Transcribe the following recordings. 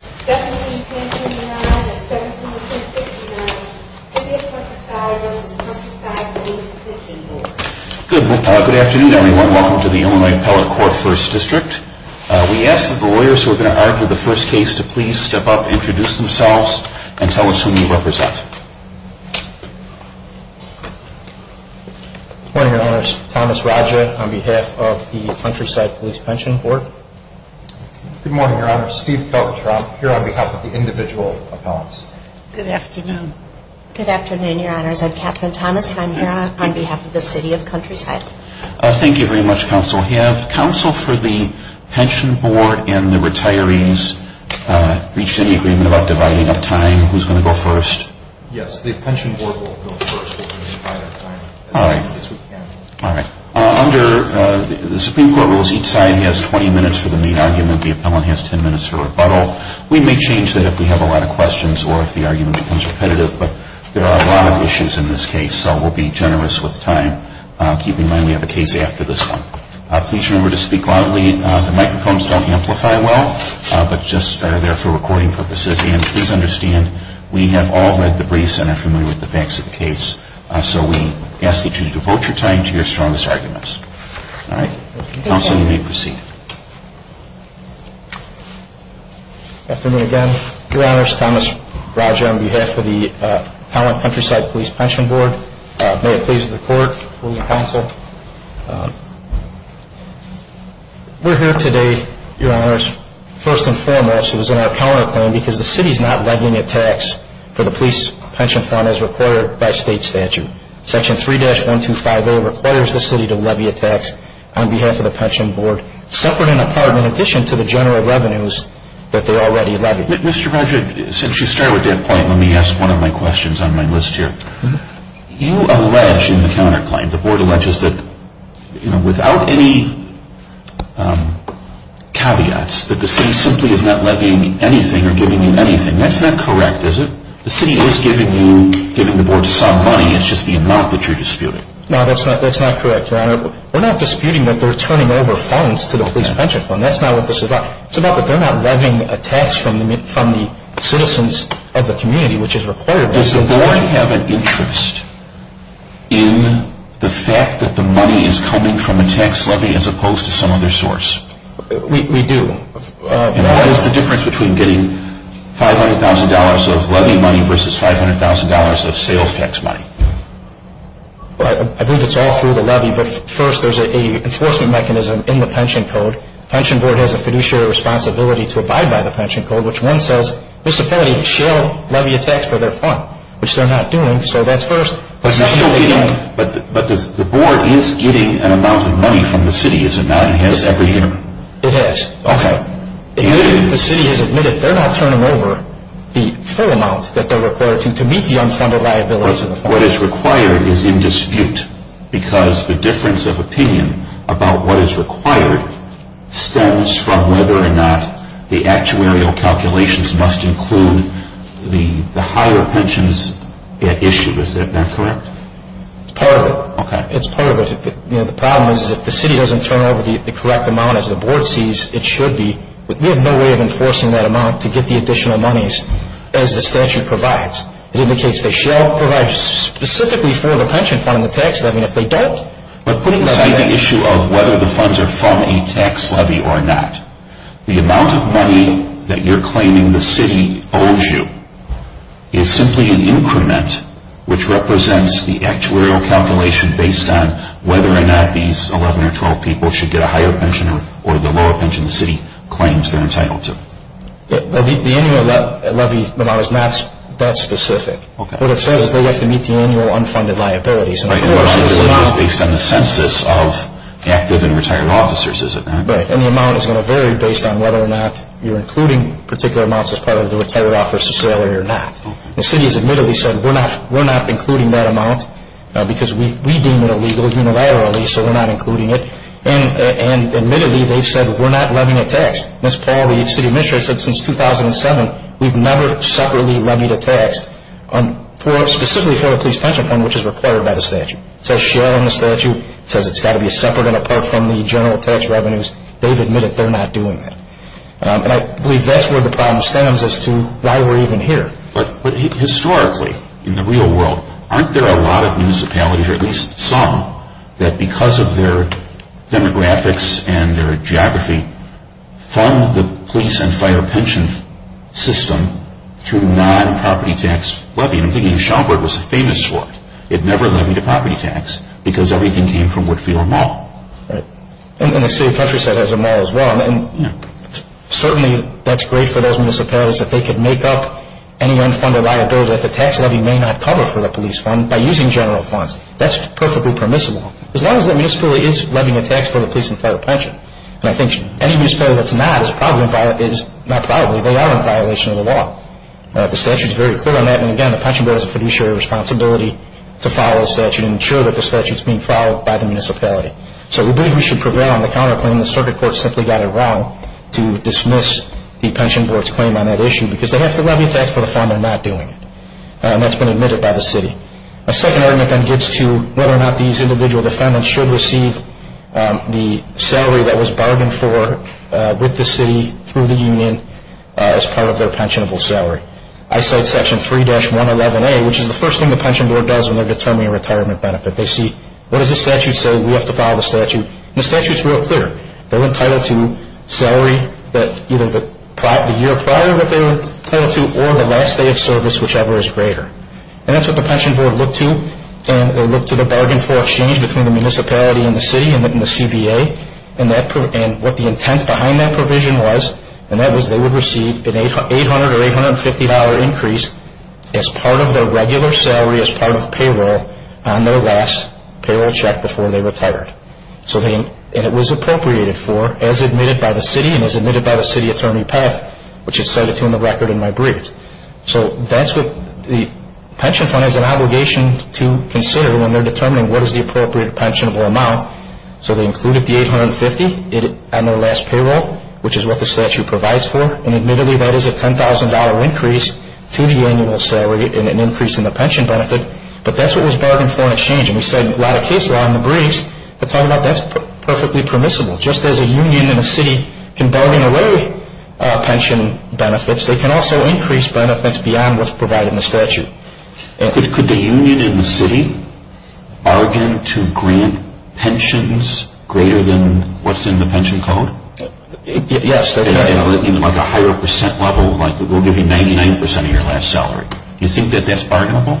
Good afternoon, everyone. Welcome to the Illinois Appellate Court First District. We ask that the lawyers who are going to argue the first case to please step up, introduce themselves, and tell us who you represent. Good morning, Your Honors. Thomas Raja on behalf of the Countryside Police Pension Board. Good morning, Your Honor. Steve Keltrop here on behalf of the individual appellants. Good afternoon. Good afternoon, Your Honors. I'm Catherine Thomas and I'm here on behalf of the City of Countryside. Thank you very much, Counsel. Have Counsel for the Pension Board and the retirees reached any agreement about dividing up time? Who's going to go first? Yes, the Pension Board will go first. All right. Yes, we can. All right. Under the Supreme Court rules, each side has 20 minutes for the main argument. The appellant has 10 minutes for rebuttal. We may change that if we have a lot of questions or if the argument becomes repetitive, but there are a lot of issues in this case, so we'll be generous with time. Keep in mind we have a case after this one. Please remember to speak loudly. The microphones don't amplify well, but just are there for recording purposes. Again, please understand we have all read the briefs and are familiar with the facts of the case, so we ask that you devote your time to your strongest arguments. All right. Counsel, you may proceed. Good afternoon again, Your Honors. Thomas Roger on behalf of the Appellant Countryside Police Pension Board. May it please the Court, will you counsel? We're here today, Your Honors, first and foremost, it was in our counterclaim, because the city's not levying a tax for the police pension fund as required by state statute. Section 3-125A requires the city to levy a tax on behalf of the Pension Board, separate and apart, in addition to the general revenues that they already levied. Mr. Roger, since you started with that point, let me ask one of my questions on my list here. You allege in the counterclaim, the Board alleges that, you know, without any caveats, that the city simply is not levying anything or giving you anything. That's not correct, is it? The city is giving you, giving the Board some money, it's just the amount that you're disputing. No, that's not correct, Your Honor. We're not disputing that they're turning over funds to the police pension fund. That's not what this is about. It's about that they're not levying a tax from the citizens of the community, which is required by state statute. Does the Board have an interest in the fact that the money is coming from a tax levy as opposed to some other source? We do. And what is the difference between getting $500,000 of levy money versus $500,000 of sales tax money? I believe it's all through the levy, but first there's an enforcement mechanism in the Pension Code. The Pension Board has a fiduciary responsibility to abide by the Pension Code, which one says, this appellee shall levy a tax for their fund, which they're not doing, so that's first. But the Board is getting an amount of money from the city, is it not? It has every year? It has. Okay. If the city has admitted, they're not turning over the full amount that they're required to, to meet the unfunded liabilities of the fund. But what is required is in dispute because the difference of opinion about what is required stems from whether or not the actuarial calculations must include the higher pensions at issue. Is that correct? It's part of it. Okay. It's part of it. You know, the problem is if the city doesn't turn over the correct amount, as the Board sees it should be, we have no way of enforcing that amount to get the additional monies as the statute provides. It indicates they shall provide specifically for the pension fund and the tax levy, and if they don't... But putting aside the issue of whether the funds are from a tax levy or not, the amount of money that you're claiming the city owes you is simply an increment which represents the actuarial calculation based on whether or not these 11 or 12 people should get a higher pension or the lower pension the city claims they're entitled to. The annual levy amount is not that specific. Okay. What it says is they have to meet the annual unfunded liabilities. Right. And the amount is based on the census of active and retired officers, is it not? Right. And the amount is going to vary based on whether or not you're including particular amounts as part of the retired officer's salary or not. Okay. The city has admittedly said we're not including that amount because we deem it illegal unilaterally, so we're not including it. And admittedly they've said we're not levying a tax. Ms. Paul, the city administrator, said since 2007 we've never separately levied a tax specifically for a police pension fund which is required by the statute. It says share in the statute. It says it's got to be separate and apart from the general tax revenues. They've admitted they're not doing that. And I believe that's where the problem stands as to why we're even here. Historically, in the real world, aren't there a lot of municipalities, or at least some, that because of their demographics and their geography fund the police and fire pension system through non-property tax levy? And I'm thinking Shelburne was famous for it. It never levied a property tax because everything came from Whitfield Mall. Right. And the city of Countryside has a mall as well. And certainly that's great for those municipalities that they could make up any unfunded liability that the tax levy may not cover for the police fund by using general funds. That's perfectly permissible as long as that municipality is levying a tax for the police and fire pension. And I think any municipality that's not is probably, not probably, they are in violation of the law. The statute is very clear on that. And, again, the pension bill has a fiduciary responsibility to follow the statute and ensure that the statute is being followed by the municipality. So we believe we should prevail on the counterclaim. And the circuit court simply got it wrong to dismiss the pension board's claim on that issue because they have to levy a tax for the fund. They're not doing it. And that's been admitted by the city. A second argument then gets to whether or not these individual defendants should receive the salary that was bargained for with the city through the union as part of their pensionable salary. I cite section 3-111A, which is the first thing the pension board does when they're determining a retirement benefit. They see, what does the statute say? We have to follow the statute. And the statute's real clear. They're entitled to salary that either the year prior that they were entitled to or the last day of service, whichever is greater. And that's what the pension board looked to. And they looked to the bargain for exchange between the municipality and the city and the CBA. And what the intent behind that provision was, and that was they would receive an $800 or $850 increase as part of their regular salary, as part of payroll on their last payroll check before they retired. And it was appropriated for as admitted by the city and as admitted by the city attorney pad, which is cited to in the record in my briefs. So that's what the pension fund has an obligation to consider when they're determining what is the appropriate pensionable amount. So they included the $850 on their last payroll, which is what the statute provides for. And admittedly, that is a $10,000 increase to the annual salary and an increase in the pension benefit. But that's what was bargained for in exchange. And we said a lot of case law in the briefs are talking about that's perfectly permissible. Just as a union and a city can bargain away pension benefits, they can also increase benefits beyond what's provided in the statute. Could the union and the city bargain to grant pensions greater than what's in the pension code? Yes. In like a higher percent level, like we'll give you 99% of your last salary. Do you think that that's bargainable?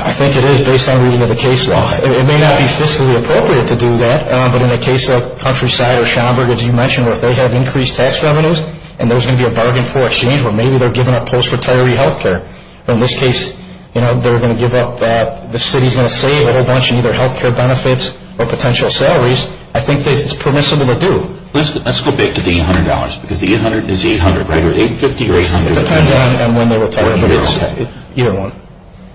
I think it is based on reading of the case law. It may not be fiscally appropriate to do that, but in a case like Countryside or Schaumburg, as you mentioned, where they have increased tax revenues and there's going to be a bargain for exchange where maybe they're giving up post-retiree health care. In this case, they're going to give up, the city's going to save a whole bunch in either health care benefits or potential salaries. I think it's permissible to do. Let's go back to the $800, because the $800 is $800, right? Or $850 or $800? It depends on when they retire, but it's year one.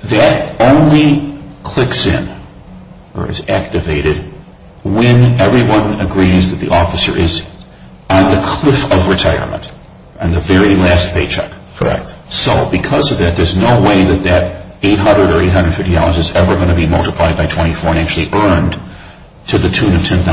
That only clicks in or is activated when everyone agrees that the officer is on the cliff of retirement, on the very last paycheck. Correct. So because of that, there's no way that that $800 or $850 is ever going to be multiplied by 24 and actually earned to the tune of $10,000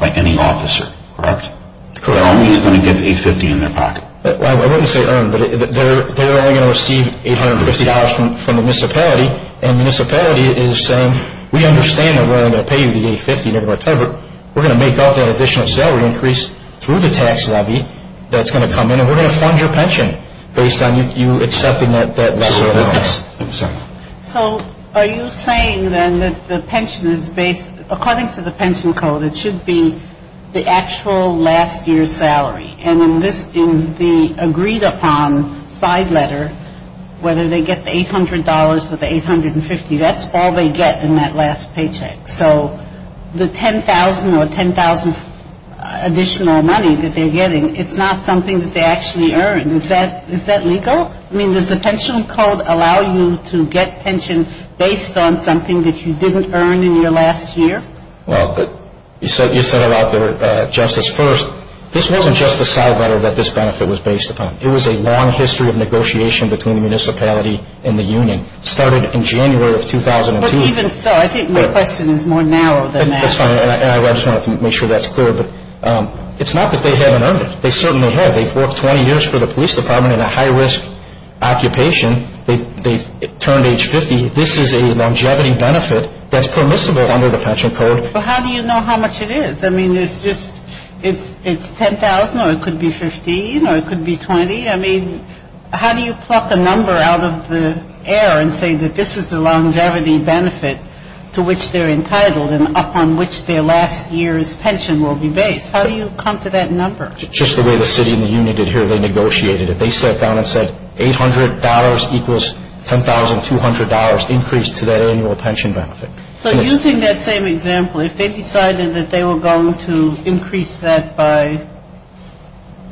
by any officer, correct? Correct. They're only going to get the $850 in their pocket. I wouldn't say earned, but they're only going to receive $850 from the municipality, and the municipality is saying, we understand that we're only going to pay you the $850, but we're going to make up that additional salary increase through the tax levy that's going to come in and we're going to fund your pension based on you accepting that lesser amount. So are you saying then that the pension is based, according to the pension code, it should be the actual last year's salary, and in the agreed upon side letter, whether they get the $800 or the $850, that's all they get in that last paycheck. So the $10,000 or $10,000 additional money that they're getting, it's not something that they actually earn. Is that legal? I mean, does the pension code allow you to get pension based on something that you didn't earn in your last year? Well, you set it out there, Justice, first. This wasn't just a side letter that this benefit was based upon. It was a long history of negotiation between the municipality and the union. It started in January of 2002. But even so, I think your question is more narrow than that. That's fine, and I just wanted to make sure that's clear. But it's not that they haven't earned it. They certainly have. They've worked 20 years for the police department in a high-risk occupation. They've turned age 50. This is a longevity benefit that's permissible under the pension code. But how do you know how much it is? I mean, it's $10,000 or it could be $15,000 or it could be $20,000. I mean, how do you pluck a number out of the air and say that this is the longevity benefit to which they're entitled and upon which their last year's pension will be based? How do you come to that number? Just the way the city and the union did here, they negotiated it. They sat down and said $800 equals $10,200 increase to their annual pension benefit. So using that same example, if they decided that they were going to increase that by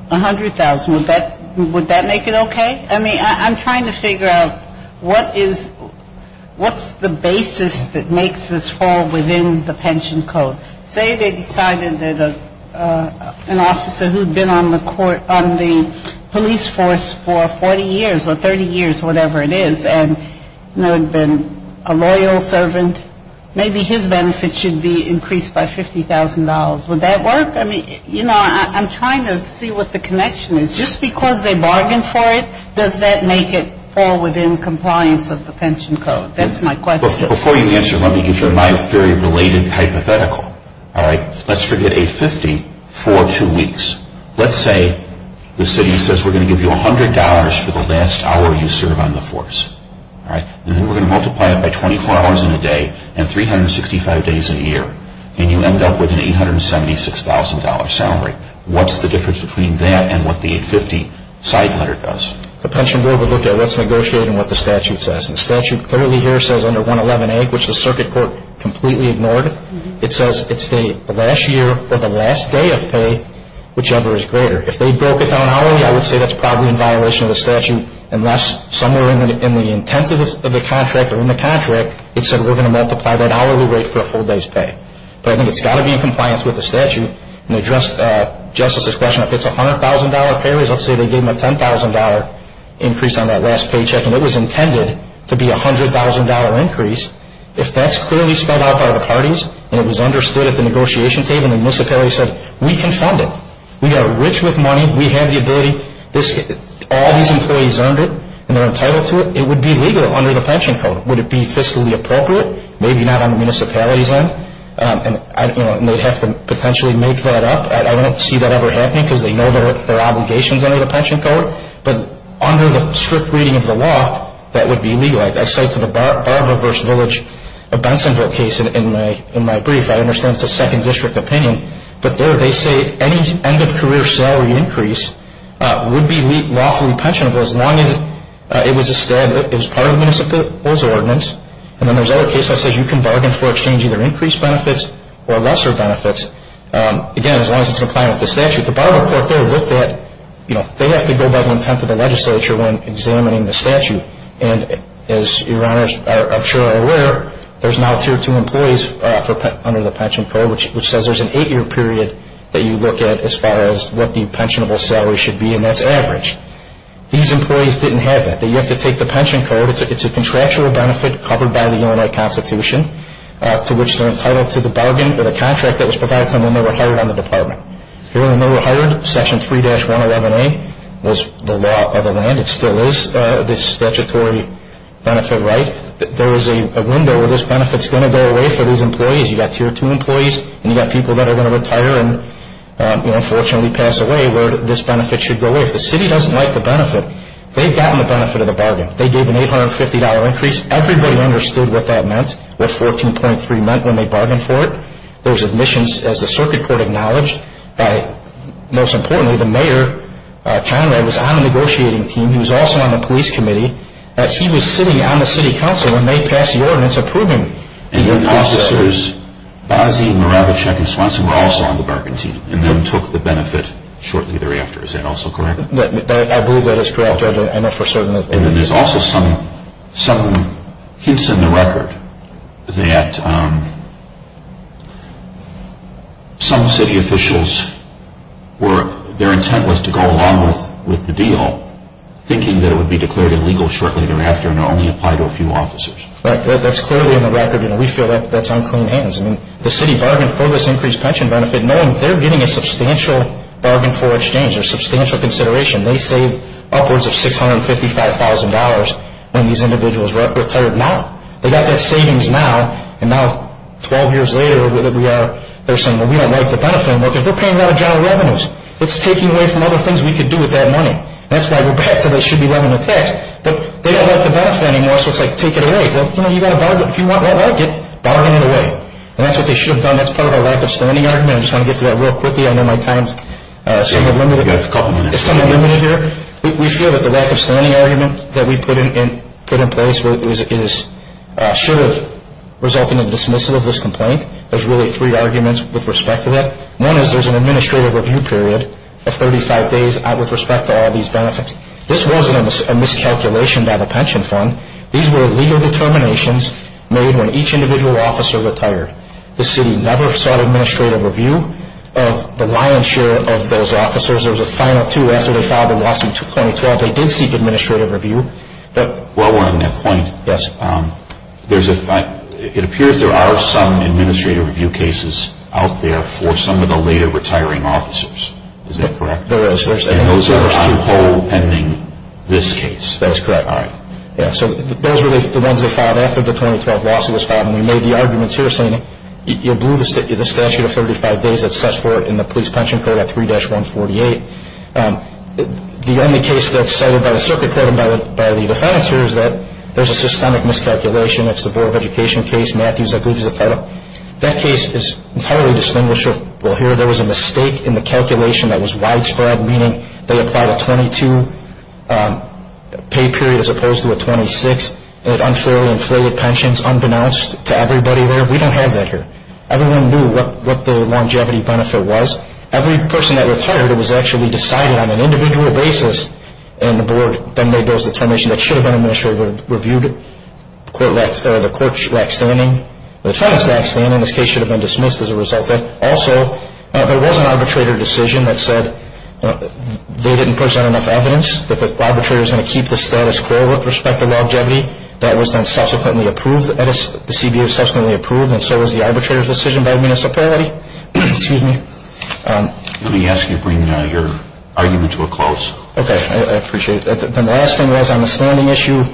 $100,000, would that make it okay? I mean, I'm trying to figure out what's the basis that makes this fall within the pension code. Say they decided that an officer who'd been on the police force for 40 years or 30 years, whatever it is, and had been a loyal servant, maybe his benefit should be increased by $50,000. Would that work? I mean, you know, I'm trying to see what the connection is. Just because they bargained for it, does that make it fall within compliance of the pension code? That's my question. Before you answer, let me give you my very related hypothetical. All right? Let's forget $850 for two weeks. Let's say the city says we're going to give you $100 for the last hour you serve on the force. All right? And then we're going to multiply it by 24 hours in a day and 365 days a year. And you end up with an $876,000 salary. What's the difference between that and what the $850 side letter does? The pension board would look at what's negotiated and what the statute says. And the statute clearly here says under 111A, which the circuit court completely ignored, it says it's the last year or the last day of pay, whichever is greater. If they broke it down hourly, I would say that's probably in violation of the statute, unless somewhere in the intent of the contract or in the contract, it said we're going to multiply that hourly rate for a full day's pay. But I think it's got to be in compliance with the statute. And to address Justice's question, if it's a $100,000 pay raise, let's say they gave him a $10,000 increase on that last paycheck, and it was intended to be a $100,000 increase, if that's clearly spelled out by the parties and it was understood at the negotiation table and the municipality said, we can fund it, we are rich with money, we have the ability, all these employees earned it and they're entitled to it, it would be legal under the pension code. Would it be fiscally appropriate? Maybe not on the municipality's end. And they'd have to potentially make that up. I don't see that ever happening because they know their obligations under the pension code. But under the strict reading of the law, that would be legalized. I cite to the Barber v. Village of Bensonville case in my brief. I understand it's a second district opinion. But there they say any end-of-career salary increase would be lawfully pensionable as long as it was part of the municipality's ordinance. And then there's another case that says you can bargain for exchange either increased benefits or lesser benefits. Again, as long as it's in compliance with the statute. At the Barber court, they have to go by the intent of the legislature when examining the statute. And as your honors I'm sure are aware, there's now tier two employees under the pension code which says there's an eight-year period that you look at as far as what the pensionable salary should be and that's average. These employees didn't have that. You have to take the pension code, it's a contractual benefit covered by the UNI Constitution to which they're entitled to the bargain or the contract that was provided to them when they were hired on the department. Here when they were hired, Section 3-111A was the law of the land. It still is this statutory benefit right. There is a window where this benefit is going to go away for these employees. You've got tier two employees and you've got people that are going to retire and unfortunately pass away where this benefit should go away. If the city doesn't like the benefit, they've gotten the benefit of the bargain. They gave an $850 increase. Everybody understood what that meant, what 14.3 meant when they bargained for it. There was admissions as the circuit court acknowledged. Most importantly, the mayor, Conrad, was on the negotiating team. He was also on the police committee. He was sitting on the city council when they passed the ordinance approving the increases. And your officers, Bozzi, Moravichek, and Swanson were also on the bargain team and then took the benefit shortly thereafter. Is that also correct? I know for certain that they did. I know for certain that there's also some hints in the record that some city officials, their intent was to go along with the deal thinking that it would be declared illegal shortly thereafter and only apply to a few officers. That's clearly in the record and we feel that's on clean hands. The city bargained for this increased pension benefit knowing they're getting a substantial bargain for exchange or substantial consideration. They saved upwards of $655,000 when these individuals retired. Now, they've got that savings now and now 12 years later, they're saying, well, we don't like the benefit anymore because we're paying out of general revenues. It's taking away from other things we could do with that money. That's why we're back to they should be levying the tax. But they don't like the benefit anymore so it's like take it away. If you don't like it, bargain it away. And that's what they should have done. That's part of our lack of standing argument. I just want to get through that real quickly. I know my time is somewhat limited. We feel that the lack of standing argument that we put in place should have resulted in the dismissal of this complaint. There's really three arguments with respect to that. One is there's an administrative review period of 35 days with respect to all these benefits. This wasn't a miscalculation by the pension fund. These were legal determinations made when each individual officer retired. The city never sought administrative review of the lion's share of those officers. There was a final two. After they filed the lawsuit in 2012, they did seek administrative review. While we're on that point, it appears there are some administrative review cases out there for some of the later retiring officers. Is that correct? There is. And those are on hold pending this case. That is correct. All right. Those were the ones they filed after the 2012 lawsuit was filed. And we made the arguments here saying you blew the statute of 35 days that sets forth in the police pension code at 3-148. The only case that's cited by the circuit court and by the defense here is that there's a systemic miscalculation. It's the Board of Education case. Matthews, I believe, is the title. That case is entirely distinguishable here. There was a mistake in the calculation that was widespread, meaning they applied a 22 pay period as opposed to a 26. It unfairly inflated pensions unbeknownst to everybody there. We don't have that here. Everyone knew what the longevity benefit was. Every person that retired was actually decided on an individual basis, and the board then made those determinations that should have been administratively reviewed. The court lacked standing. The defense lacked standing. This case should have been dismissed as a result. Also, there was an arbitrator decision that said they didn't present enough evidence, that the arbitrator was going to keep the status quo with respect to longevity. That was then subsequently approved. The CBO subsequently approved, and so was the arbitrator's decision by the municipality. Excuse me. Let me ask you to bring your argument to a close. Okay. I appreciate it. Then the last thing was on the standing issue,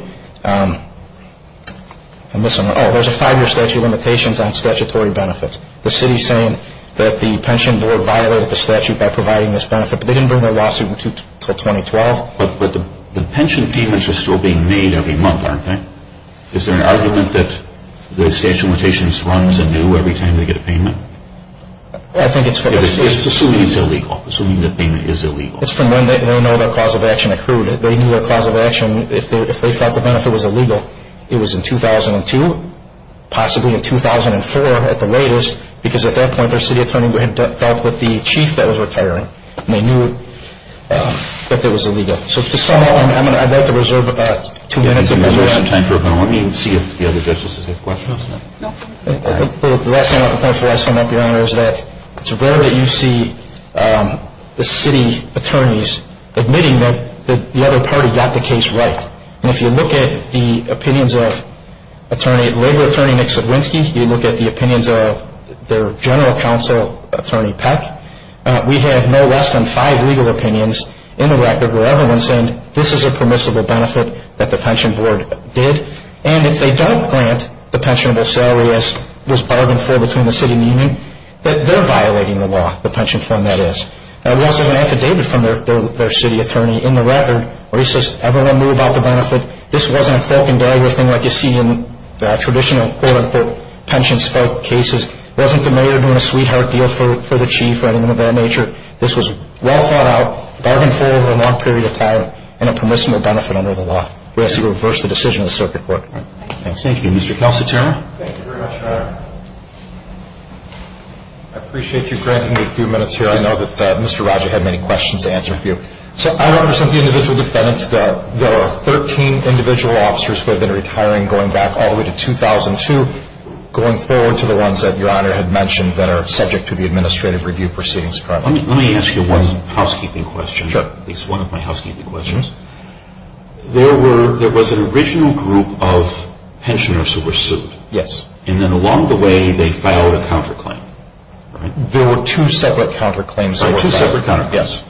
there's a five-year statute of limitations on statutory benefits. The city is saying that the pension board violated the statute by providing this benefit, but they didn't bring their lawsuit until 2012. But the pension payments are still being made every month, aren't they? Is there an argument that the statute of limitations runs anew every time they get a payment? Assuming it's illegal. Assuming the payment is illegal. It's from when they don't know what their cause of action accrued. They knew their cause of action, if they thought the benefit was illegal, it was in 2002, possibly in 2004 at the latest, because at that point their city attorney had dealt with the chief that was retiring, and they knew that it was illegal. So to sum up, I'd like to reserve about two minutes. Let me see if the other justices have questions. No. The last thing I'd like to point out before I sum up, Your Honor, is that it's rare that you see the city attorneys admitting that the other party got the case right. And if you look at the opinions of Attorney at Labor, Attorney Nix-Sedwinski, you look at the opinions of their general counsel, Attorney Peck, we have no less than five legal opinions in the record where everyone's saying this is a permissible benefit that the pension board did. And if they don't grant the pensionable salary as was bargained for between the city and the union, that they're violating the law, the pension fund that is. We also have an affidavit from their city attorney in the record where he says everyone knew about the benefit. This wasn't a fork and dagger thing like you see in traditional quote-unquote pension spike cases. It wasn't the mayor doing a sweetheart deal for the chief or anything of that nature. This was well thought out, bargained for over a long period of time, and a permissible benefit under the law. We ask that you reverse the decision of the circuit court. Thank you. Thank you. Mr. Kelso-Turner. Thank you very much, Your Honor. I appreciate you granting me a few minutes here. I know that Mr. Roger had many questions to answer for you. So I want to present the individual defendants. There are 13 individual officers who have been retiring going back all the way to 2002, going forward to the ones that Your Honor had mentioned that are subject to the administrative review proceedings. Let me ask you one housekeeping question, at least one of my housekeeping questions. There was an original group of pensioners who were sued. Yes. And then along the way they filed a counterclaim. There were two separate counterclaims. Two separate counterclaims, yes.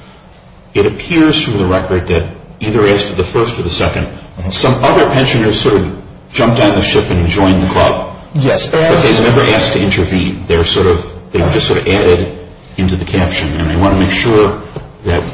It appears from the record that either as to the first or the second, some other pensioners sort of jumped on the ship and joined the club. Yes. But they were never asked to intervene. They were just sort of added into the caption. And I want to make sure that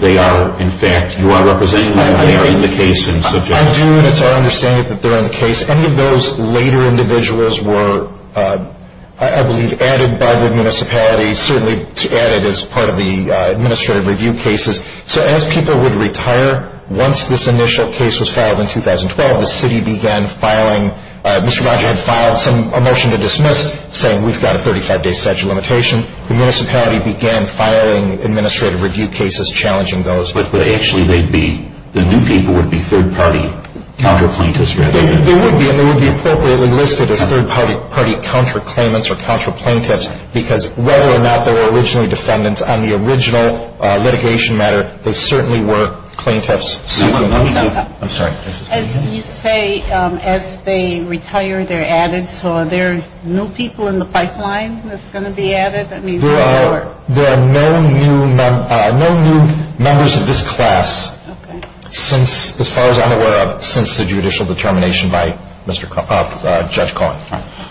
they are, in fact, you are representing them. They are in the case and subject. I do, and it's our understanding that they're in the case. Any of those later individuals were, I believe, added by the municipality, certainly added as part of the administrative review cases. So as people would retire, once this initial case was filed in 2012, the city began filing. Mr. Rogers had filed a motion to dismiss, saying we've got a 35-day statute of limitation. The municipality began filing administrative review cases, challenging those. But actually they'd be, the new people would be third-party counterplaintiffs. They would be, and they would be appropriately listed as third-party counterclaimants or counterplaintiffs because whether or not they were originally defendants on the original litigation matter, they certainly were plaintiffs. I'm sorry. As you say, as they retire, they're added. So are there new people in the pipeline that's going to be added? There are no new members of this class since, as far as I'm aware of, since the judicial determination by Judge Cohen.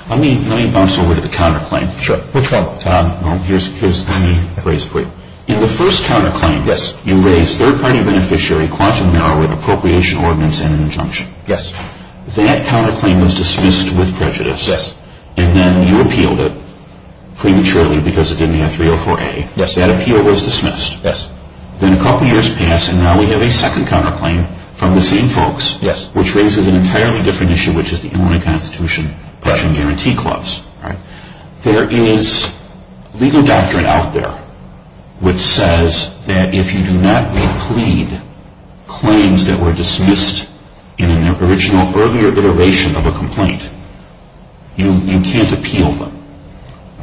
Let me bounce over to the counterclaim. Sure. Which one? Here's the phrase for you. In the first counterclaim, you raise third-party beneficiary quantum narrow appropriation ordinance and an injunction. Yes. That counterclaim was dismissed with prejudice. Yes. And then you appealed it prematurely because it didn't have 304A. Yes. That appeal was dismissed. Yes. Then a couple years pass, and now we have a second counterclaim from the same folks. Yes. Which raises an entirely different issue, which is the Illinois Constitution Pledging Guarantee Clause. Right. There is legal doctrine out there which says that if you do not replead claims that were dismissed in an original earlier iteration of a complaint, you can't appeal them.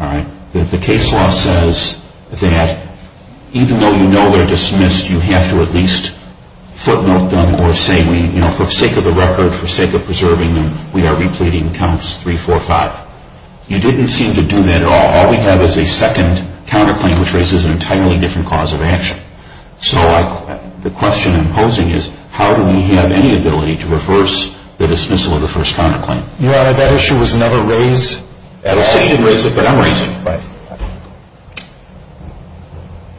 All right. The case law says that even though you know they're dismissed, you have to at least footnote them or say, you know, for sake of the record, for sake of preserving them, we are repleting counts 3, 4, 5. You didn't seem to do that at all. All we have is a second counterclaim, which raises an entirely different cause of action. So the question I'm posing is, how do we have any ability to reverse the dismissal of the first counterclaim? Your Honor, that issue was never raised. I don't say you didn't raise it, but I'm raising it. Right.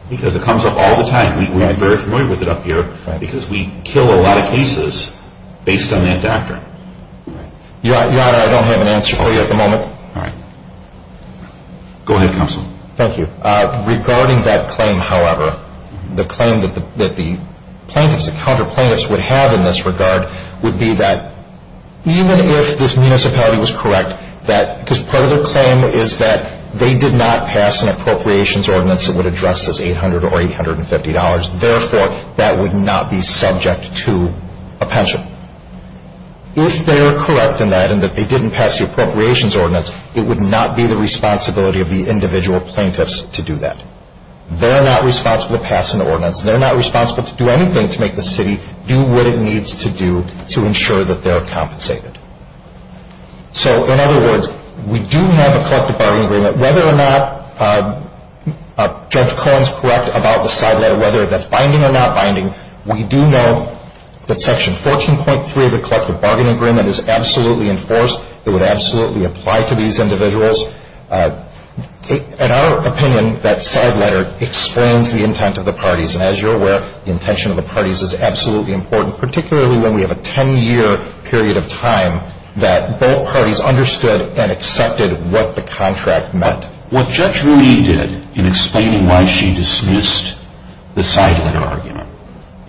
Because it comes up all the time. Right. We're very familiar with it up here. Right. Because we kill a lot of cases based on that doctrine. Your Honor, I don't have an answer for you at the moment. All right. Go ahead, Counsel. Thank you. Regarding that claim, however, the claim that the plaintiffs, the counterplaintiffs, would have in this regard would be that even if this municipality was correct, because part of their claim is that they did not pass an appropriations ordinance that would address this $800 or $850, therefore, that would not be subject to a pension. If they're correct in that and that they didn't pass the appropriations ordinance, it would not be the responsibility of the individual plaintiffs to do that. They're not responsible to pass an ordinance. They're not responsible to do anything to make the city do what it needs to do to ensure that they're compensated. So, in other words, we do have a collective bargaining agreement. Whether or not Judge Cohen's correct about the side letter, whether that's binding or not binding, we do know that Section 14.3 of the collective bargaining agreement is absolutely enforced. It would absolutely apply to these individuals. In our opinion, that side letter explains the intent of the parties, and as you're aware, the intention of the parties is absolutely important, particularly when we have a 10-year period of time that both parties understood and accepted what the contract meant. What Judge Rooney did in explaining why she dismissed the side letter argument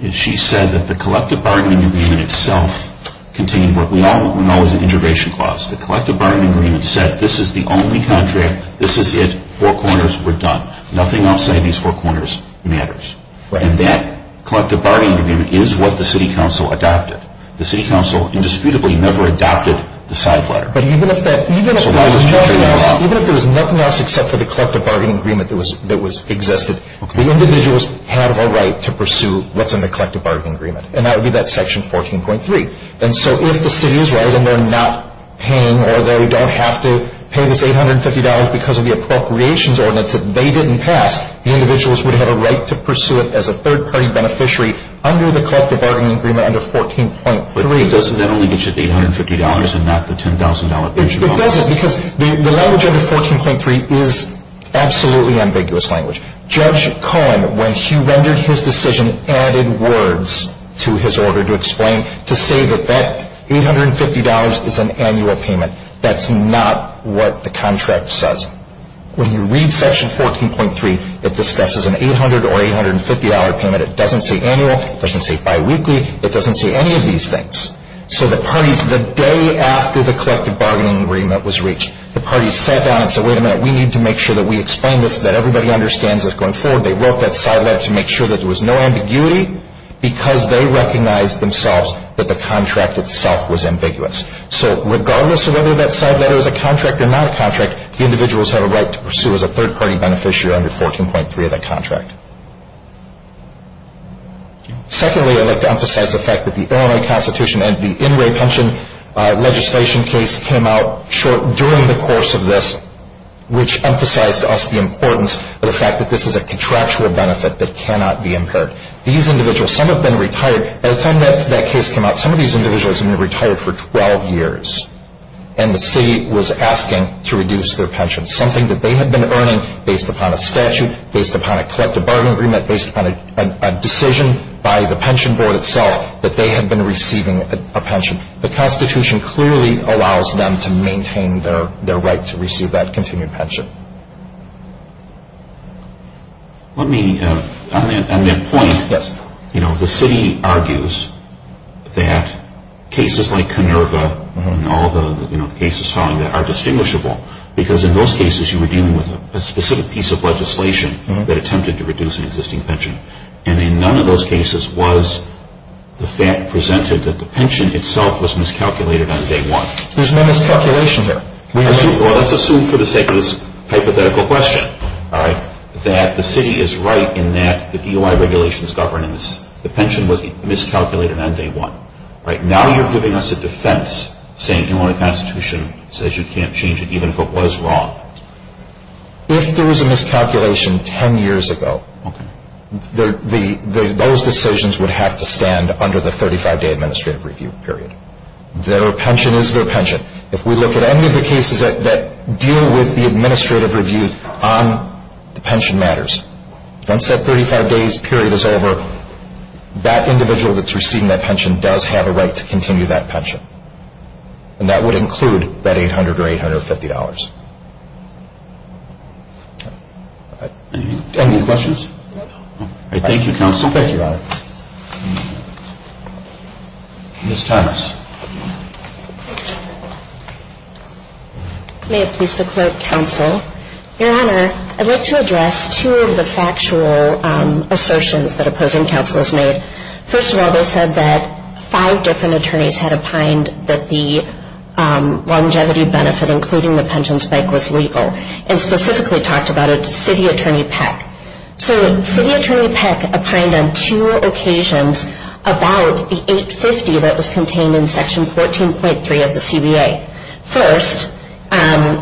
is she said that the collective bargaining agreement itself contained what we all know as an integration clause. The collective bargaining agreement said this is the only contract, this is it, four corners, we're done. Nothing outside these four corners matters. And that collective bargaining agreement is what the city council adopted. The city council indisputably never adopted the side letter. Even if there was nothing else except for the collective bargaining agreement that existed, the individuals had a right to pursue what's in the collective bargaining agreement, and that would be that Section 14.3. And so if the city is right and they're not paying or they don't have to pay this $850 because of the appropriations ordinance that they didn't pass, the individuals would have a right to pursue it as a third-party beneficiary under the collective bargaining agreement under 14.3. But doesn't that only get you the $850 and not the $10,000? It doesn't because the language under 14.3 is absolutely ambiguous language. Judge Cohen, when he rendered his decision, added words to his order to explain to say that that $850 is an annual payment. That's not what the contract says. When you read Section 14.3, it discusses an $800 or $850 payment. It doesn't say annual. It doesn't say biweekly. It doesn't say any of these things. So the parties, the day after the collective bargaining agreement was reached, the parties sat down and said, wait a minute, we need to make sure that we explain this so that everybody understands it going forward. They wrote that side letter to make sure that there was no ambiguity because they recognized themselves that the contract itself was ambiguous. So regardless of whether that side letter is a contract or not a contract, the individuals have a right to pursue as a third-party beneficiary under 14.3 of that contract. Secondly, I'd like to emphasize the fact that the Illinois Constitution and the in-way pension legislation case came out during the course of this, which emphasized to us the importance of the fact that this is a contractual benefit that cannot be impaired. These individuals, some have been retired. By the time that case came out, some of these individuals had been retired for 12 years, and the city was asking to reduce their pension, something that they had been earning based upon a statute, based upon a collective bargaining agreement, based upon a decision by the pension board itself that they had been receiving a pension. The Constitution clearly allows them to maintain their right to receive that continued pension. Let me, on that point, you know, the city argues that cases like Kinnerva and all the cases following that are distinguishable because in those cases you were dealing with a specific piece of legislation that attempted to reduce an existing pension, and in none of those cases was the fact presented that the pension itself was miscalculated on day one. There's no miscalculation here. Well, let's assume for the sake of this hypothetical question, all right, that the city is right in that the DOI regulations govern and the pension was miscalculated on day one, right? Now you're giving us a defense saying you own a Constitution that says you can't change it even if it was wrong. If there was a miscalculation 10 years ago, those decisions would have to stand under the 35-day administrative review period. Their pension is their pension. If we look at any of the cases that deal with the administrative review on the pension matters, once that 35-day period is over, that individual that's receiving that pension does have a right to continue that pension, and that would include that $800 or $850. Any questions? Thank you, Counsel. Thank you, Your Honor. Ms. Thomas. May it please the Court, Counsel. Your Honor, I'd like to address two of the factual assertions that opposing counsel has made. First of all, they said that five different attorneys had opined that the longevity benefit, including the pension spike, was legal, and specifically talked about it to City Attorney Peck. So City Attorney Peck opined on two occasions about the $850 that was contained in Section 14.3 of the CBA. First,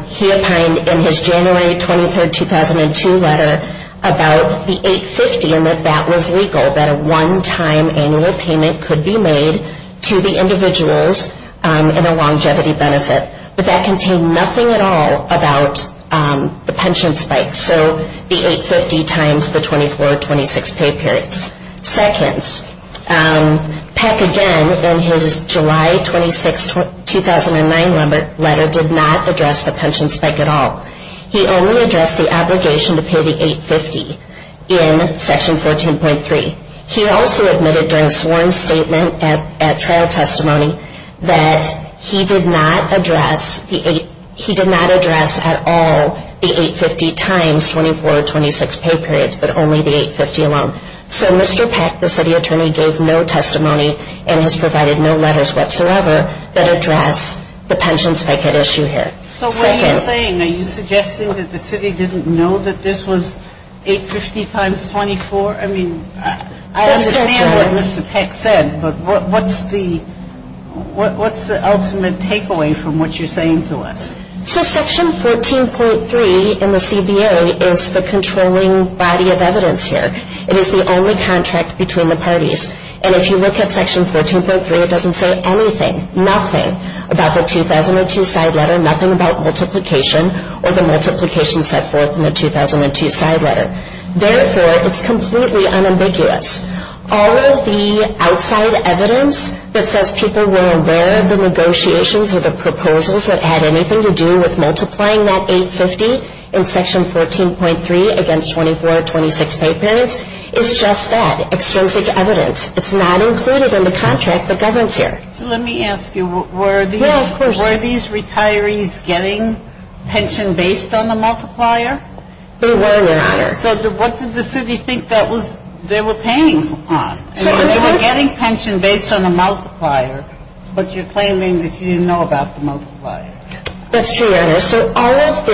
he opined in his January 23, 2002 letter about the $850 and that that was legal, that a one-time annual payment could be made to the individuals in a longevity benefit. But that contained nothing at all about the pension spike. So the $850 times the 24 or 26 pay periods. Second, Peck again, in his July 26, 2009 letter, did not address the pension spike at all. He only addressed the obligation to pay the $850 in Section 14.3. He also admitted during sworn statement at trial testimony that he did not address the $850, he did not address at all the $850 times 24 or 26 pay periods, but only the $850 alone. So Mr. Peck, the City Attorney, gave no testimony and has provided no letters whatsoever that address the pension spike at issue here. So what are you saying? Are you suggesting that the City didn't know that this was $850 times 24? I mean, I understand what Mr. Peck said, but what's the ultimate takeaway from what you're saying to us? So Section 14.3 in the CBA is the controlling body of evidence here. It is the only contract between the parties. And if you look at Section 14.3, it doesn't say anything, nothing about the 2002 side letter, nothing about multiplication or the multiplication set forth in the 2002 side letter. Therefore, it's completely unambiguous. All of the outside evidence that says people were aware of the negotiations or the proposals that had anything to do with multiplying that $850 in Section 14.3 against 24 or 26 pay periods is just that, extrinsic evidence. It's not included in the contract that governs here. So let me ask you, were these retirees getting pension based on the multiplier? They were, Your Honor. So what did the City think they were paying on? They were getting pension based on the multiplier, but you're claiming that you didn't know about the multiplier. That's true, Your Honor. So all of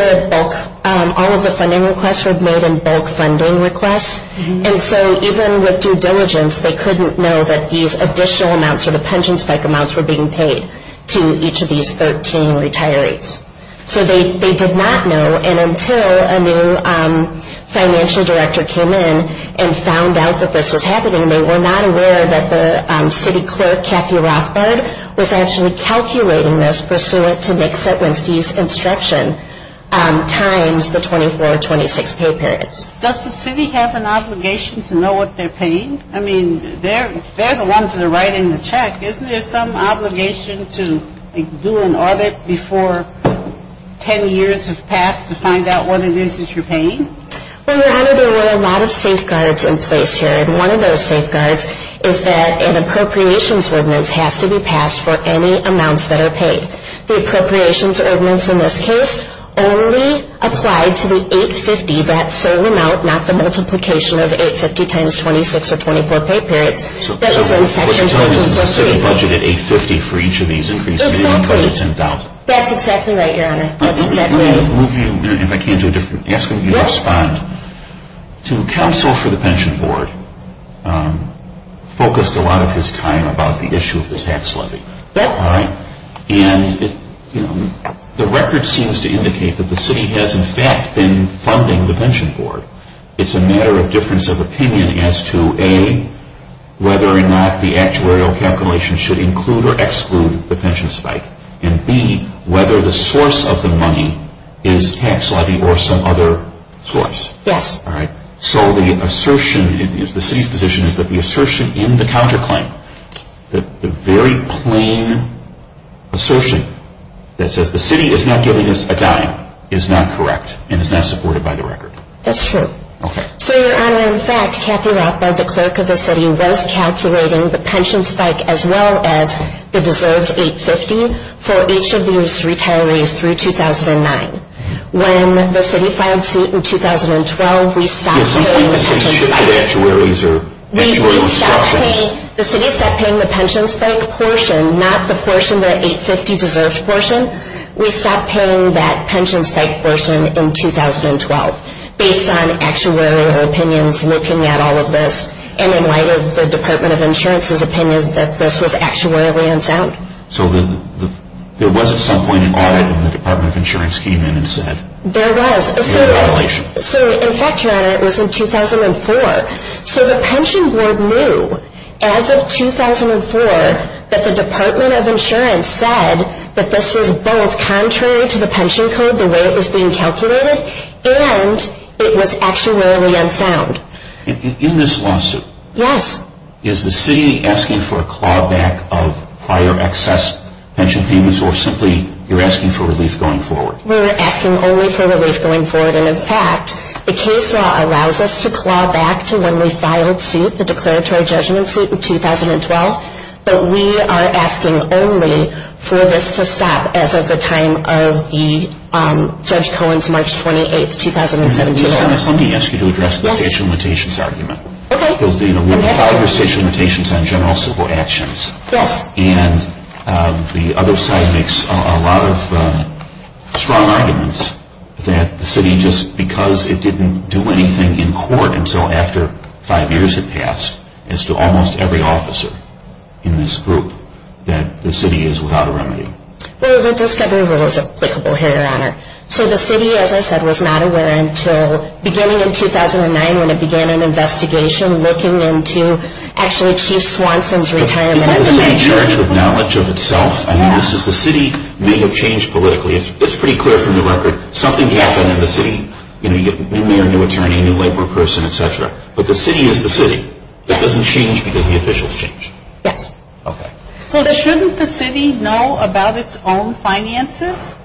the funding requests were made in bulk funding requests. And so even with due diligence, they couldn't know that these additional amounts or the pension spike amounts were being paid to each of these 13 retirees. So they did not know. And until a new financial director came in and found out that this was happening, they were not aware that the City Clerk, Kathy Rothbard, was actually calculating this pursuant to Nick Setwinski's instruction times the 24 or 26 pay periods. Does the City have an obligation to know what they're paying? I mean, they're the ones that are writing the check. Isn't there some obligation to do an audit before 10 years have passed to find out what it is that you're paying? Well, Your Honor, there were a lot of safeguards in place here. And one of those safeguards is that an appropriations ordinance has to be passed for any amounts that are paid. The appropriations ordinance in this case only applied to the 850, that same amount, not the multiplication of 850 times 26 or 24 pay periods. So the City budgeted 850 for each of these increases and budgeted 10,000? Exactly. That's exactly right, Your Honor. Let me move you, if I can, to a different aspect. You respond to counsel for the Pension Board focused a lot of his time about the issue of the tax levy. And the record seems to indicate that the City has, in fact, been funding the Pension Board. It's a matter of difference of opinion as to, A, whether or not the actuarial calculation should include or exclude the pension spike, and, B, whether the source of the money is tax levy or some other source. Yes. All right. So the assertion, the City's position is that the assertion in the counterclaim, the very plain assertion that says the City is not giving us a dime is not correct and is not supported by the record. That's true. Okay. So, Your Honor, in fact, Kathy Rothbard, the clerk of the City, was calculating the pension spike as well as the deserved 850 for each of these retirees through 2009. When the City filed suit in 2012, we stopped paying the pension spike. Did somebody say shifted actuaries or actuarial instructions? We stopped paying, the City stopped paying the pension spike portion, not the portion, the 850 deserved portion. We stopped paying that pension spike portion in 2012 based on actuarial opinions looking at all of this and in light of the Department of Insurance's opinions that this was actuarially unsound. So there was at some point an audit when the Department of Insurance came in and said it was a violation. There was. So, in fact, Your Honor, it was in 2004. So the pension board knew as of 2004 that the Department of Insurance said that this was both contrary to the pension code, the way it was being calculated, and it was actuarially unsound. In this lawsuit, Yes. or simply you're asking for relief going forward. We're asking only for relief going forward. And, in fact, the case law allows us to claw back to when we filed suit, the declaratory judgment suit in 2012, but we are asking only for this to stop as of the time of Judge Cohen's March 28, 2017. Your Honor, let me ask you to address the stage limitations argument. Okay. We have five or six limitations on general civil actions. Yes. And the other side makes a lot of strong arguments that the city, just because it didn't do anything in court until after five years had passed, as to almost every officer in this group, that the city is without a remedy. Well, the discovery rule is applicable here, Your Honor. So the city, as I said, was not aware until beginning in 2009 when it began an investigation looking into actually Chief Swanson's retirement. But isn't the city charged with knowledge of itself? Yes. I mean, the city may have changed politically. It's pretty clear from the record. Yes. Something happened in the city. You know, you get a new mayor, a new attorney, a new labor person, et cetera. But the city is the city. Yes. That doesn't change because the officials change. Yes. Okay. So shouldn't the city know about its own finances?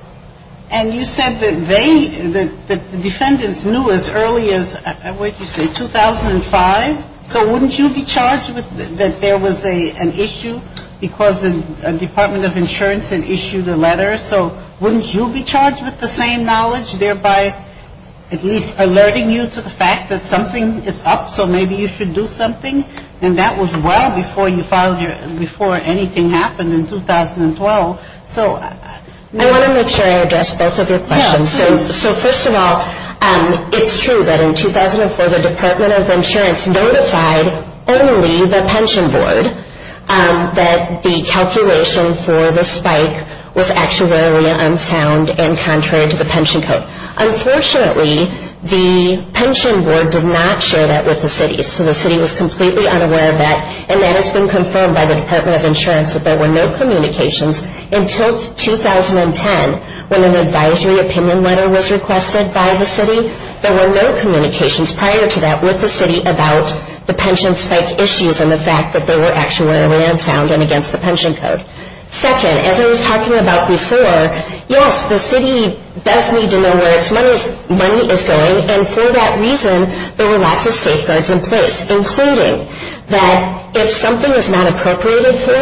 And you said that they, that the defendants knew as early as, what did you say, 2005? So wouldn't you be charged with that there was an issue because the Department of Insurance had issued a letter? So wouldn't you be charged with the same knowledge, thereby at least alerting you to the fact that something is up, so maybe you should do something? And that was well before you filed your, before anything happened in 2012. I want to make sure I address both of your questions. Yes. So first of all, it's true that in 2004, the Department of Insurance notified only the pension board that the calculation for the spike was actuarially unsound and contrary to the pension code. Unfortunately, the pension board did not share that with the city, so the city was completely unaware of that, and that has been confirmed by the city. Until 2010, when an advisory opinion letter was requested by the city, there were no communications prior to that with the city about the pension spike issues and the fact that they were actuarially unsound and against the pension code. Second, as I was talking about before, yes, the city does need to know where its money is going, and for that reason, there were lots of safeguards in place, including that if something is not appropriated for,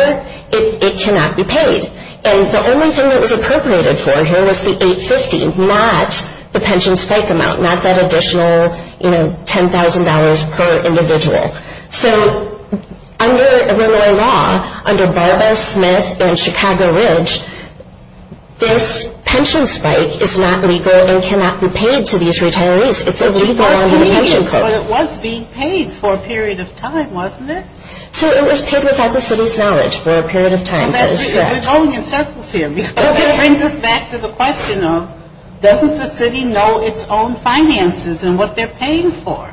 it cannot be paid. And the only thing that was appropriated for here was the 850, not the pension spike amount, not that additional, you know, $10,000 per individual. So under Illinois law, under Barbara Smith and Chicago Ridge, this pension spike is not legal and cannot be paid to these retirees. It's illegal under the pension code. But it was being paid for a period of time, wasn't it? So it was paid without the city's knowledge for a period of time. We're going in circles here because that brings us back to the question of doesn't the city know its own finances and what they're paying for?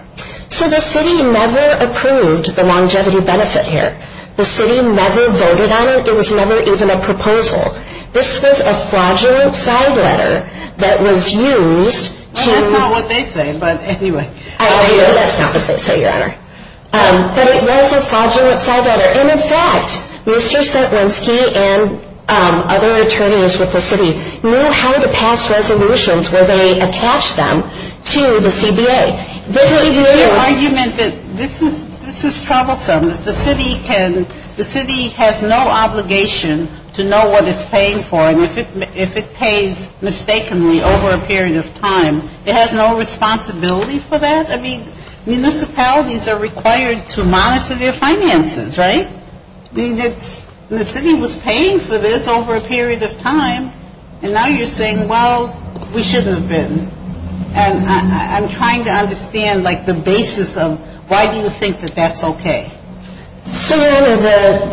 So the city never approved the longevity benefit here. The city never voted on it. It was never even a proposal. This was a fraudulent side letter that was used to Well, that's not what they say, but anyway. That's not what they say, Your Honor. But it was a fraudulent side letter. And, in fact, Mr. Sentrenski and other attorneys with the city know how to pass resolutions where they attach them to the CBA. This is the argument that this is troublesome. The city has no obligation to know what it's paying for. And if it pays mistakenly over a period of time, it has no responsibility for that? I mean, municipalities are required to monitor their finances, right? I mean, the city was paying for this over a period of time, and now you're saying, well, we shouldn't have been. And I'm trying to understand, like, the basis of why do you think that that's okay? So, Your Honor,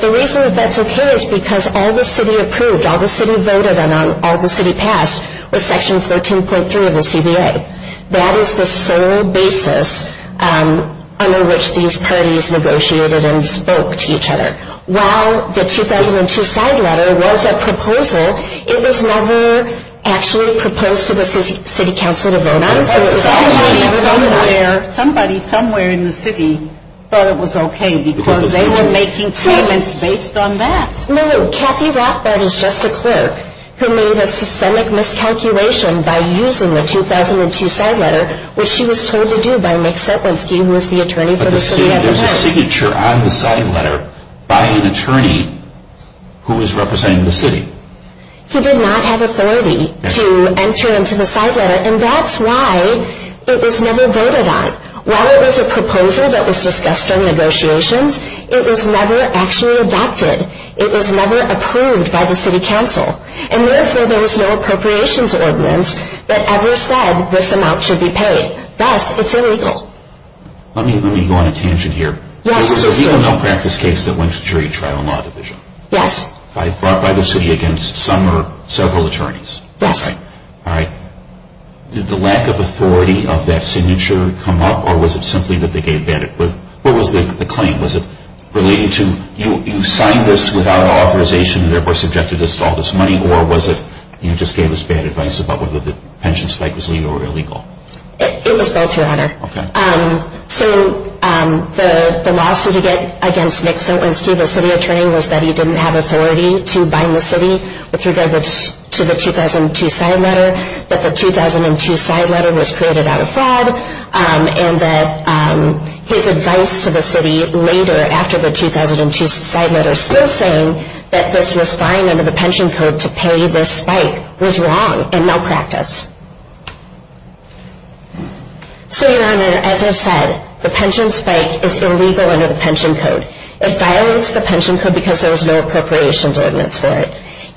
the reason that that's okay is because all the city approved, all the city voted, and all the city passed was Section 13.3 of the CBA. That is the sole basis under which these parties negotiated and spoke to each other. While the 2002 side letter was a proposal, it was never actually proposed to the city council to vote on. Somebody somewhere in the city thought it was okay because they were making statements based on that. No, no, Kathy Rothbard is just a clerk who made a systemic miscalculation by using the 2002 side letter, which she was told to do by Mick Setlinski, who was the attorney for the city at the time. But there's a signature on the side letter by an attorney who was representing the city. He did not have authority to enter into the side letter, and that's why it was never voted on. While it was a proposal that was discussed during negotiations, it was never actually adopted. It was never approved by the city council. And therefore, there was no appropriations ordinance that ever said this amount should be paid. Thus, it's illegal. Let me go on a tangent here. There was a juvenile practice case that went to the jury trial and law division. Yes. Brought by the city against some or several attorneys. Yes. All right. Did the lack of authority of that signature come up, or was it simply that they gave bad advice? What was the claim? Was it related to you signed this without authorization and therefore subjected us to all this money, or was it you just gave us bad advice about whether the pension spike was legal or illegal? It was both, Your Honor. Okay. So the lawsuit against Mick Setlinski, the city attorney, was that he didn't have authority to bind the city with regard to the 2002 side letter, that the 2002 side letter was created out of fraud, and that his advice to the city later, after the 2002 side letter, still saying that this was fine under the pension code to pay this spike was wrong and malpractice. So, Your Honor, as I said, the pension spike is illegal under the pension code. It violates the pension code because there was no appropriations ordinance for it.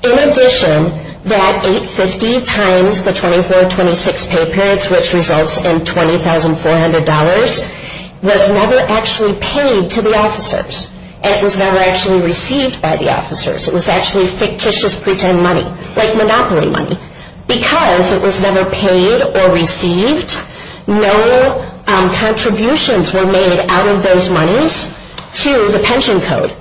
In addition, that 850 times the 2426 pay periods, which results in $20,400, was never actually paid to the officers, and it was never actually received by the officers. It was actually fictitious pretend money, like monopoly money. Because it was never paid or received, no contributions were made out of those monies to the pension code.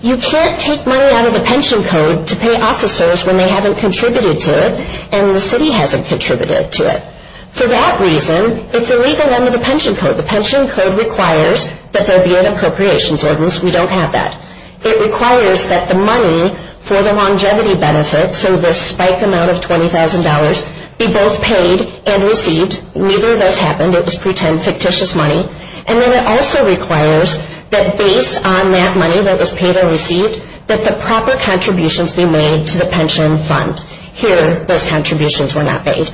You can't take money out of the pension code to pay officers when they haven't contributed to it, and the city hasn't contributed to it. For that reason, it's illegal under the pension code. The pension code requires that there be an appropriations ordinance. We don't have that. It requires that the money for the longevity benefit, so this spike amount of $20,000, be both paid and received. Neither of those happened. It was pretend, fictitious money. And then it also requires that based on that money that was paid or received, that the proper contributions be made to the pension fund. Here, those contributions were not made.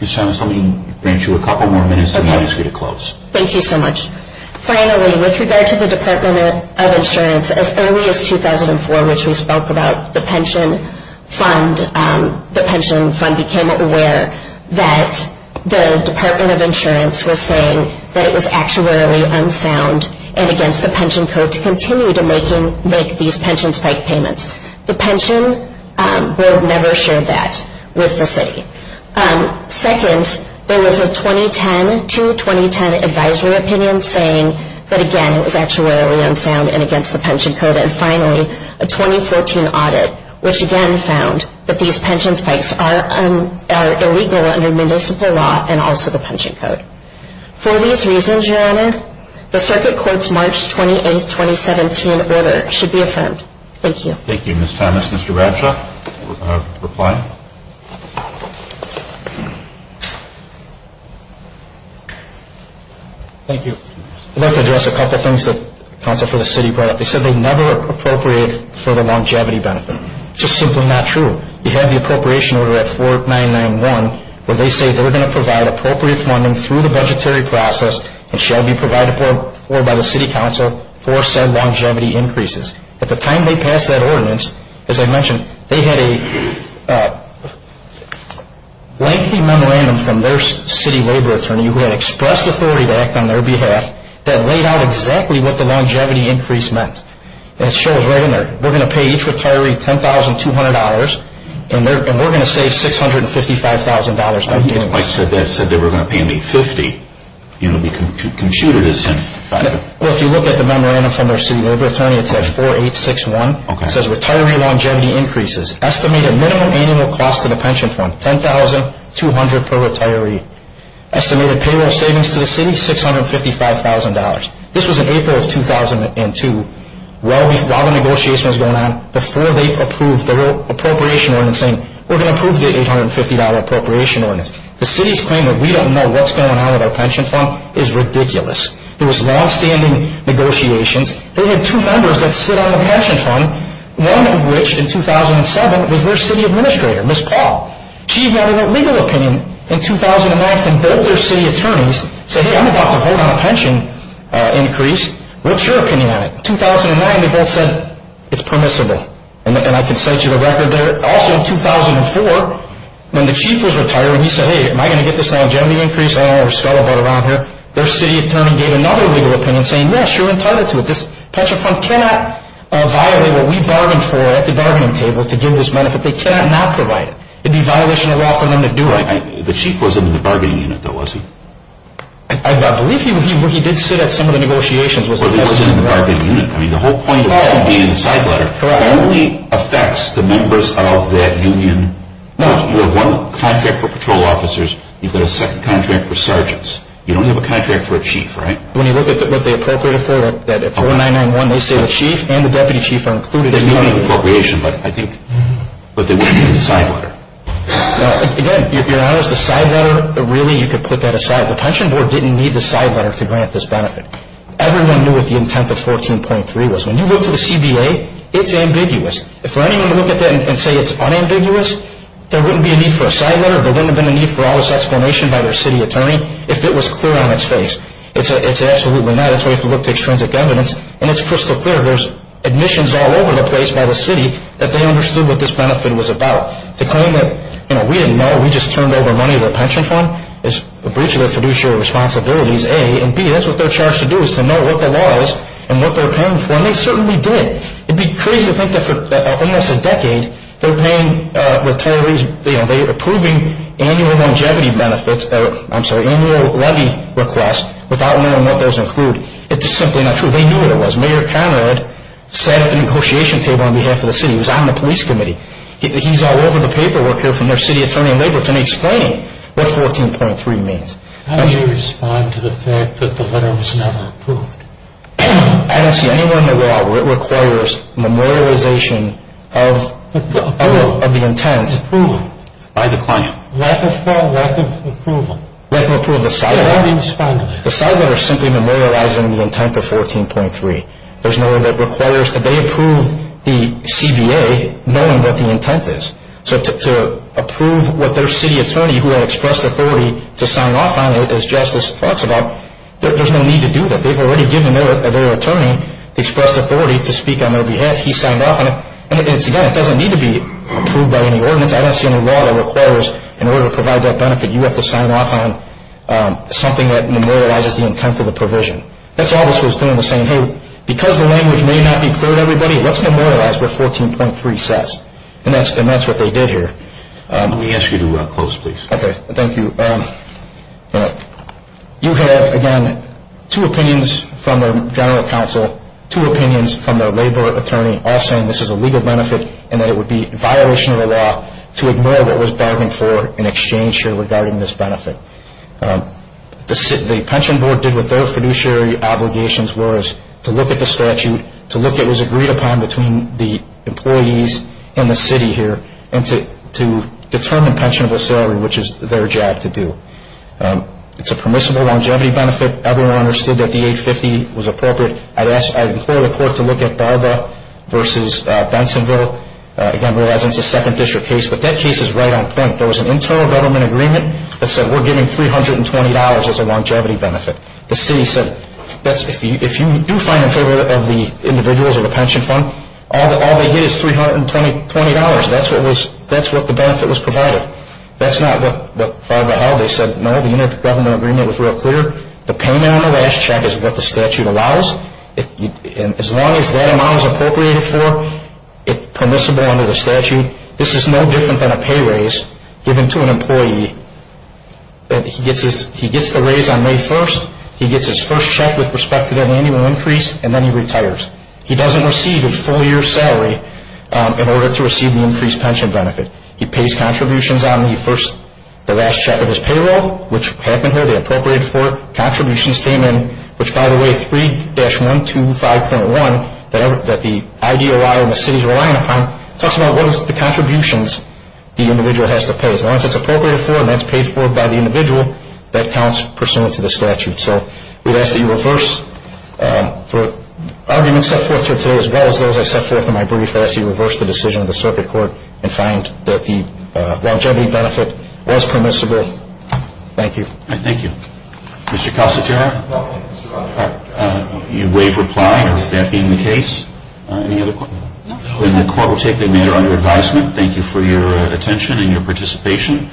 Ms. Thomas, let me grant you a couple more minutes, and then I ask you to close. Thank you so much. Finally, with regard to the Department of Insurance, as early as 2004, which we spoke about the pension fund, the pension fund became aware that the Department of Insurance was saying that it was actuarially unsound and against the pension code to continue to make these pension spike payments. The pension board never shared that with the city. Second, there was a 2010-2010 advisory opinion saying that, again, it was actuarially unsound and against the pension code. And finally, a 2014 audit, which again found that these pension spikes are illegal under municipal law and also the pension code. For these reasons, Your Honor, the circuit court's March 28, 2017, order should be affirmed. Thank you. Thank you, Ms. Thomas. Mr. Bradshaw, reply. Thank you. I'd like to address a couple of things that counsel for the city brought up. They said they'd never appropriate for the longevity benefit. It's just simply not true. You have the appropriation order at 4991 where they say they're going to provide appropriate funding through the budgetary process and shall be provided for by the city council for said longevity increases. At the time they passed that ordinance, as I mentioned, they had a lengthy memorandum from their city labor attorney who had expressed authority to act on their behalf that laid out exactly what the longevity increase meant. And it shows right in there. We're going to pay each retiree $10,200, and we're going to save $655,000. I didn't quite say that. It said they were going to pay me $50. You can compute it as $10,500. Well, if you look at the memorandum from their city labor attorney, it says 4861. It says retiree longevity increases. Estimated minimum annual cost to the pension fund, $10,200 per retiree. Estimated payroll savings to the city, $655,000. This was in April of 2002. While the negotiation was going on, before they approved the appropriation ordinance, saying we're going to approve the $850 appropriation ordinance, the city's claim that we don't know what's going on with our pension fund is ridiculous. There was longstanding negotiations. They had two members that sit on the pension fund, one of which in 2007 was their city administrator, Ms. Paul. She had a legal opinion in 2009 from both their city attorneys, saying, hey, I'm about to vote on a pension increase. What's your opinion on it? In 2009, they both said it's permissible. And I can cite you the record there. Also in 2004, when the chief was retiring, he said, hey, am I going to get this longevity increase? Oh, we're scuttlebutt around here. Their city attorney gave another legal opinion, saying, yes, you're entitled to it. This pension fund cannot violate what we bargained for at the bargaining table to give this benefit. They cannot not provide it. It would be violation of law for them to do it. The chief wasn't in the bargaining unit, though, was he? I believe he did sit at some of the negotiations. Well, he wasn't in the bargaining unit. I mean, the whole point is to be in the side letter. Correct. It only affects the members of that union. No. You have one contract for patrol officers. You've got a second contract for sergeants. You don't have a contract for a chief, right? When you look at what they appropriated for, that 4991, they say the chief and the deputy chief are included. There may be an appropriation, but I think that they would be in the side letter. Again, if you're honest, the side letter, really you could put that aside. The pension board didn't need the side letter to grant this benefit. Everyone knew what the intent of 14.3 was. When you look to the CBA, it's ambiguous. For anyone to look at that and say it's unambiguous, there wouldn't be a need for a side letter. There wouldn't have been a need for all this explanation by their city attorney if it was clear on its face. It's absolutely not. That's why you have to look to extrinsic evidence, and it's crystal clear. There's admissions all over the place by the city that they understood what this benefit was about. The claim that, you know, we didn't know, we just turned over money to the pension fund is a breach of their fiduciary responsibilities, A, and B, that's what they're charged to do is to know what the law is and what they're paying for. And they certainly did. It would be crazy to think that for almost a decade they were paying with total reason, you know, they were approving annual longevity benefits, I'm sorry, annual levy requests without knowing what those include. It's just simply not true. They knew what it was. Mayor Conrad sat at the negotiation table on behalf of the city. He was on the police committee. He's all over the paperwork here from their city attorney and labor attorney explaining what 14.3 means. How do you respond to the fact that the letter was never approved? I don't see anywhere in the law where it requires memorialization of the intent by the client. Lack of what? Lack of approval. Lack of approval of the side letter. How do you respond to that? The side letter is simply memorializing the intent of 14.3. There's no way that requires that they approve the CBA knowing what the intent is. So to approve what their city attorney who had expressed authority to sign off on it, as Justice talks about, there's no need to do that. They've already given their attorney the express authority to speak on their behalf. He signed off on it. And again, it doesn't need to be approved by any ordinance. I don't see any law that requires in order to provide that benefit, you have to sign off on something that memorializes the intent of the provision. That's all this was doing was saying, hey, because the language may not be clear to everybody, let's memorialize what 14.3 says. And that's what they did here. Let me ask you to close, please. Okay. Thank you. You have, again, two opinions from the general counsel, two opinions from the labor attorney, all saying this is a legal benefit and that it would be a violation of the law to ignore what was bargained for in exchange here regarding this benefit. The pension board did what their fiduciary obligations was to look at the statute, to look at what was agreed upon between the employees and the city here, and to determine pensionable salary, which is their job to do. It's a permissible longevity benefit. Everyone understood that the 850 was appropriate. I'd implore the court to look at Barba versus Bensonville. Again, realizing it's a second district case, but that case is right on point. There was an internal government agreement that said we're giving $320 as a longevity benefit. The city said if you do find in favor of the individuals or the pension fund, all they get is $320. That's what the benefit was provided. That's not what Barba held. They said, no, the internal government agreement was real clear. The payment on the last check is what the statute allows. And as long as that amount is appropriated for, permissible under the statute, this is no different than a pay raise given to an employee. He gets a raise on May 1st. He gets his first check with respect to that annual increase, and then he retires. He doesn't receive a full year's salary in order to receive the increased pension benefit. He pays contributions on the last check of his payroll, which happened here. They appropriated for it. Contributions came in, which by the way, 3-125.1 that the IDOI and the city is relying upon talks about what is the contributions the individual has to pay. As long as it's appropriated for and that's paid for by the individual, that counts pursuant to the statute. So we'd ask that you reverse for arguments set forth here today as well as those I set forth in my brief. I'd ask that you reverse the decision of the circuit court and find that the longevity benefit was permissible. Thank you. Thank you. Mr. Casatera? You waive reply with that being the case? No. Then the court will take the matter under advisement. Thank you for your attention and your participation.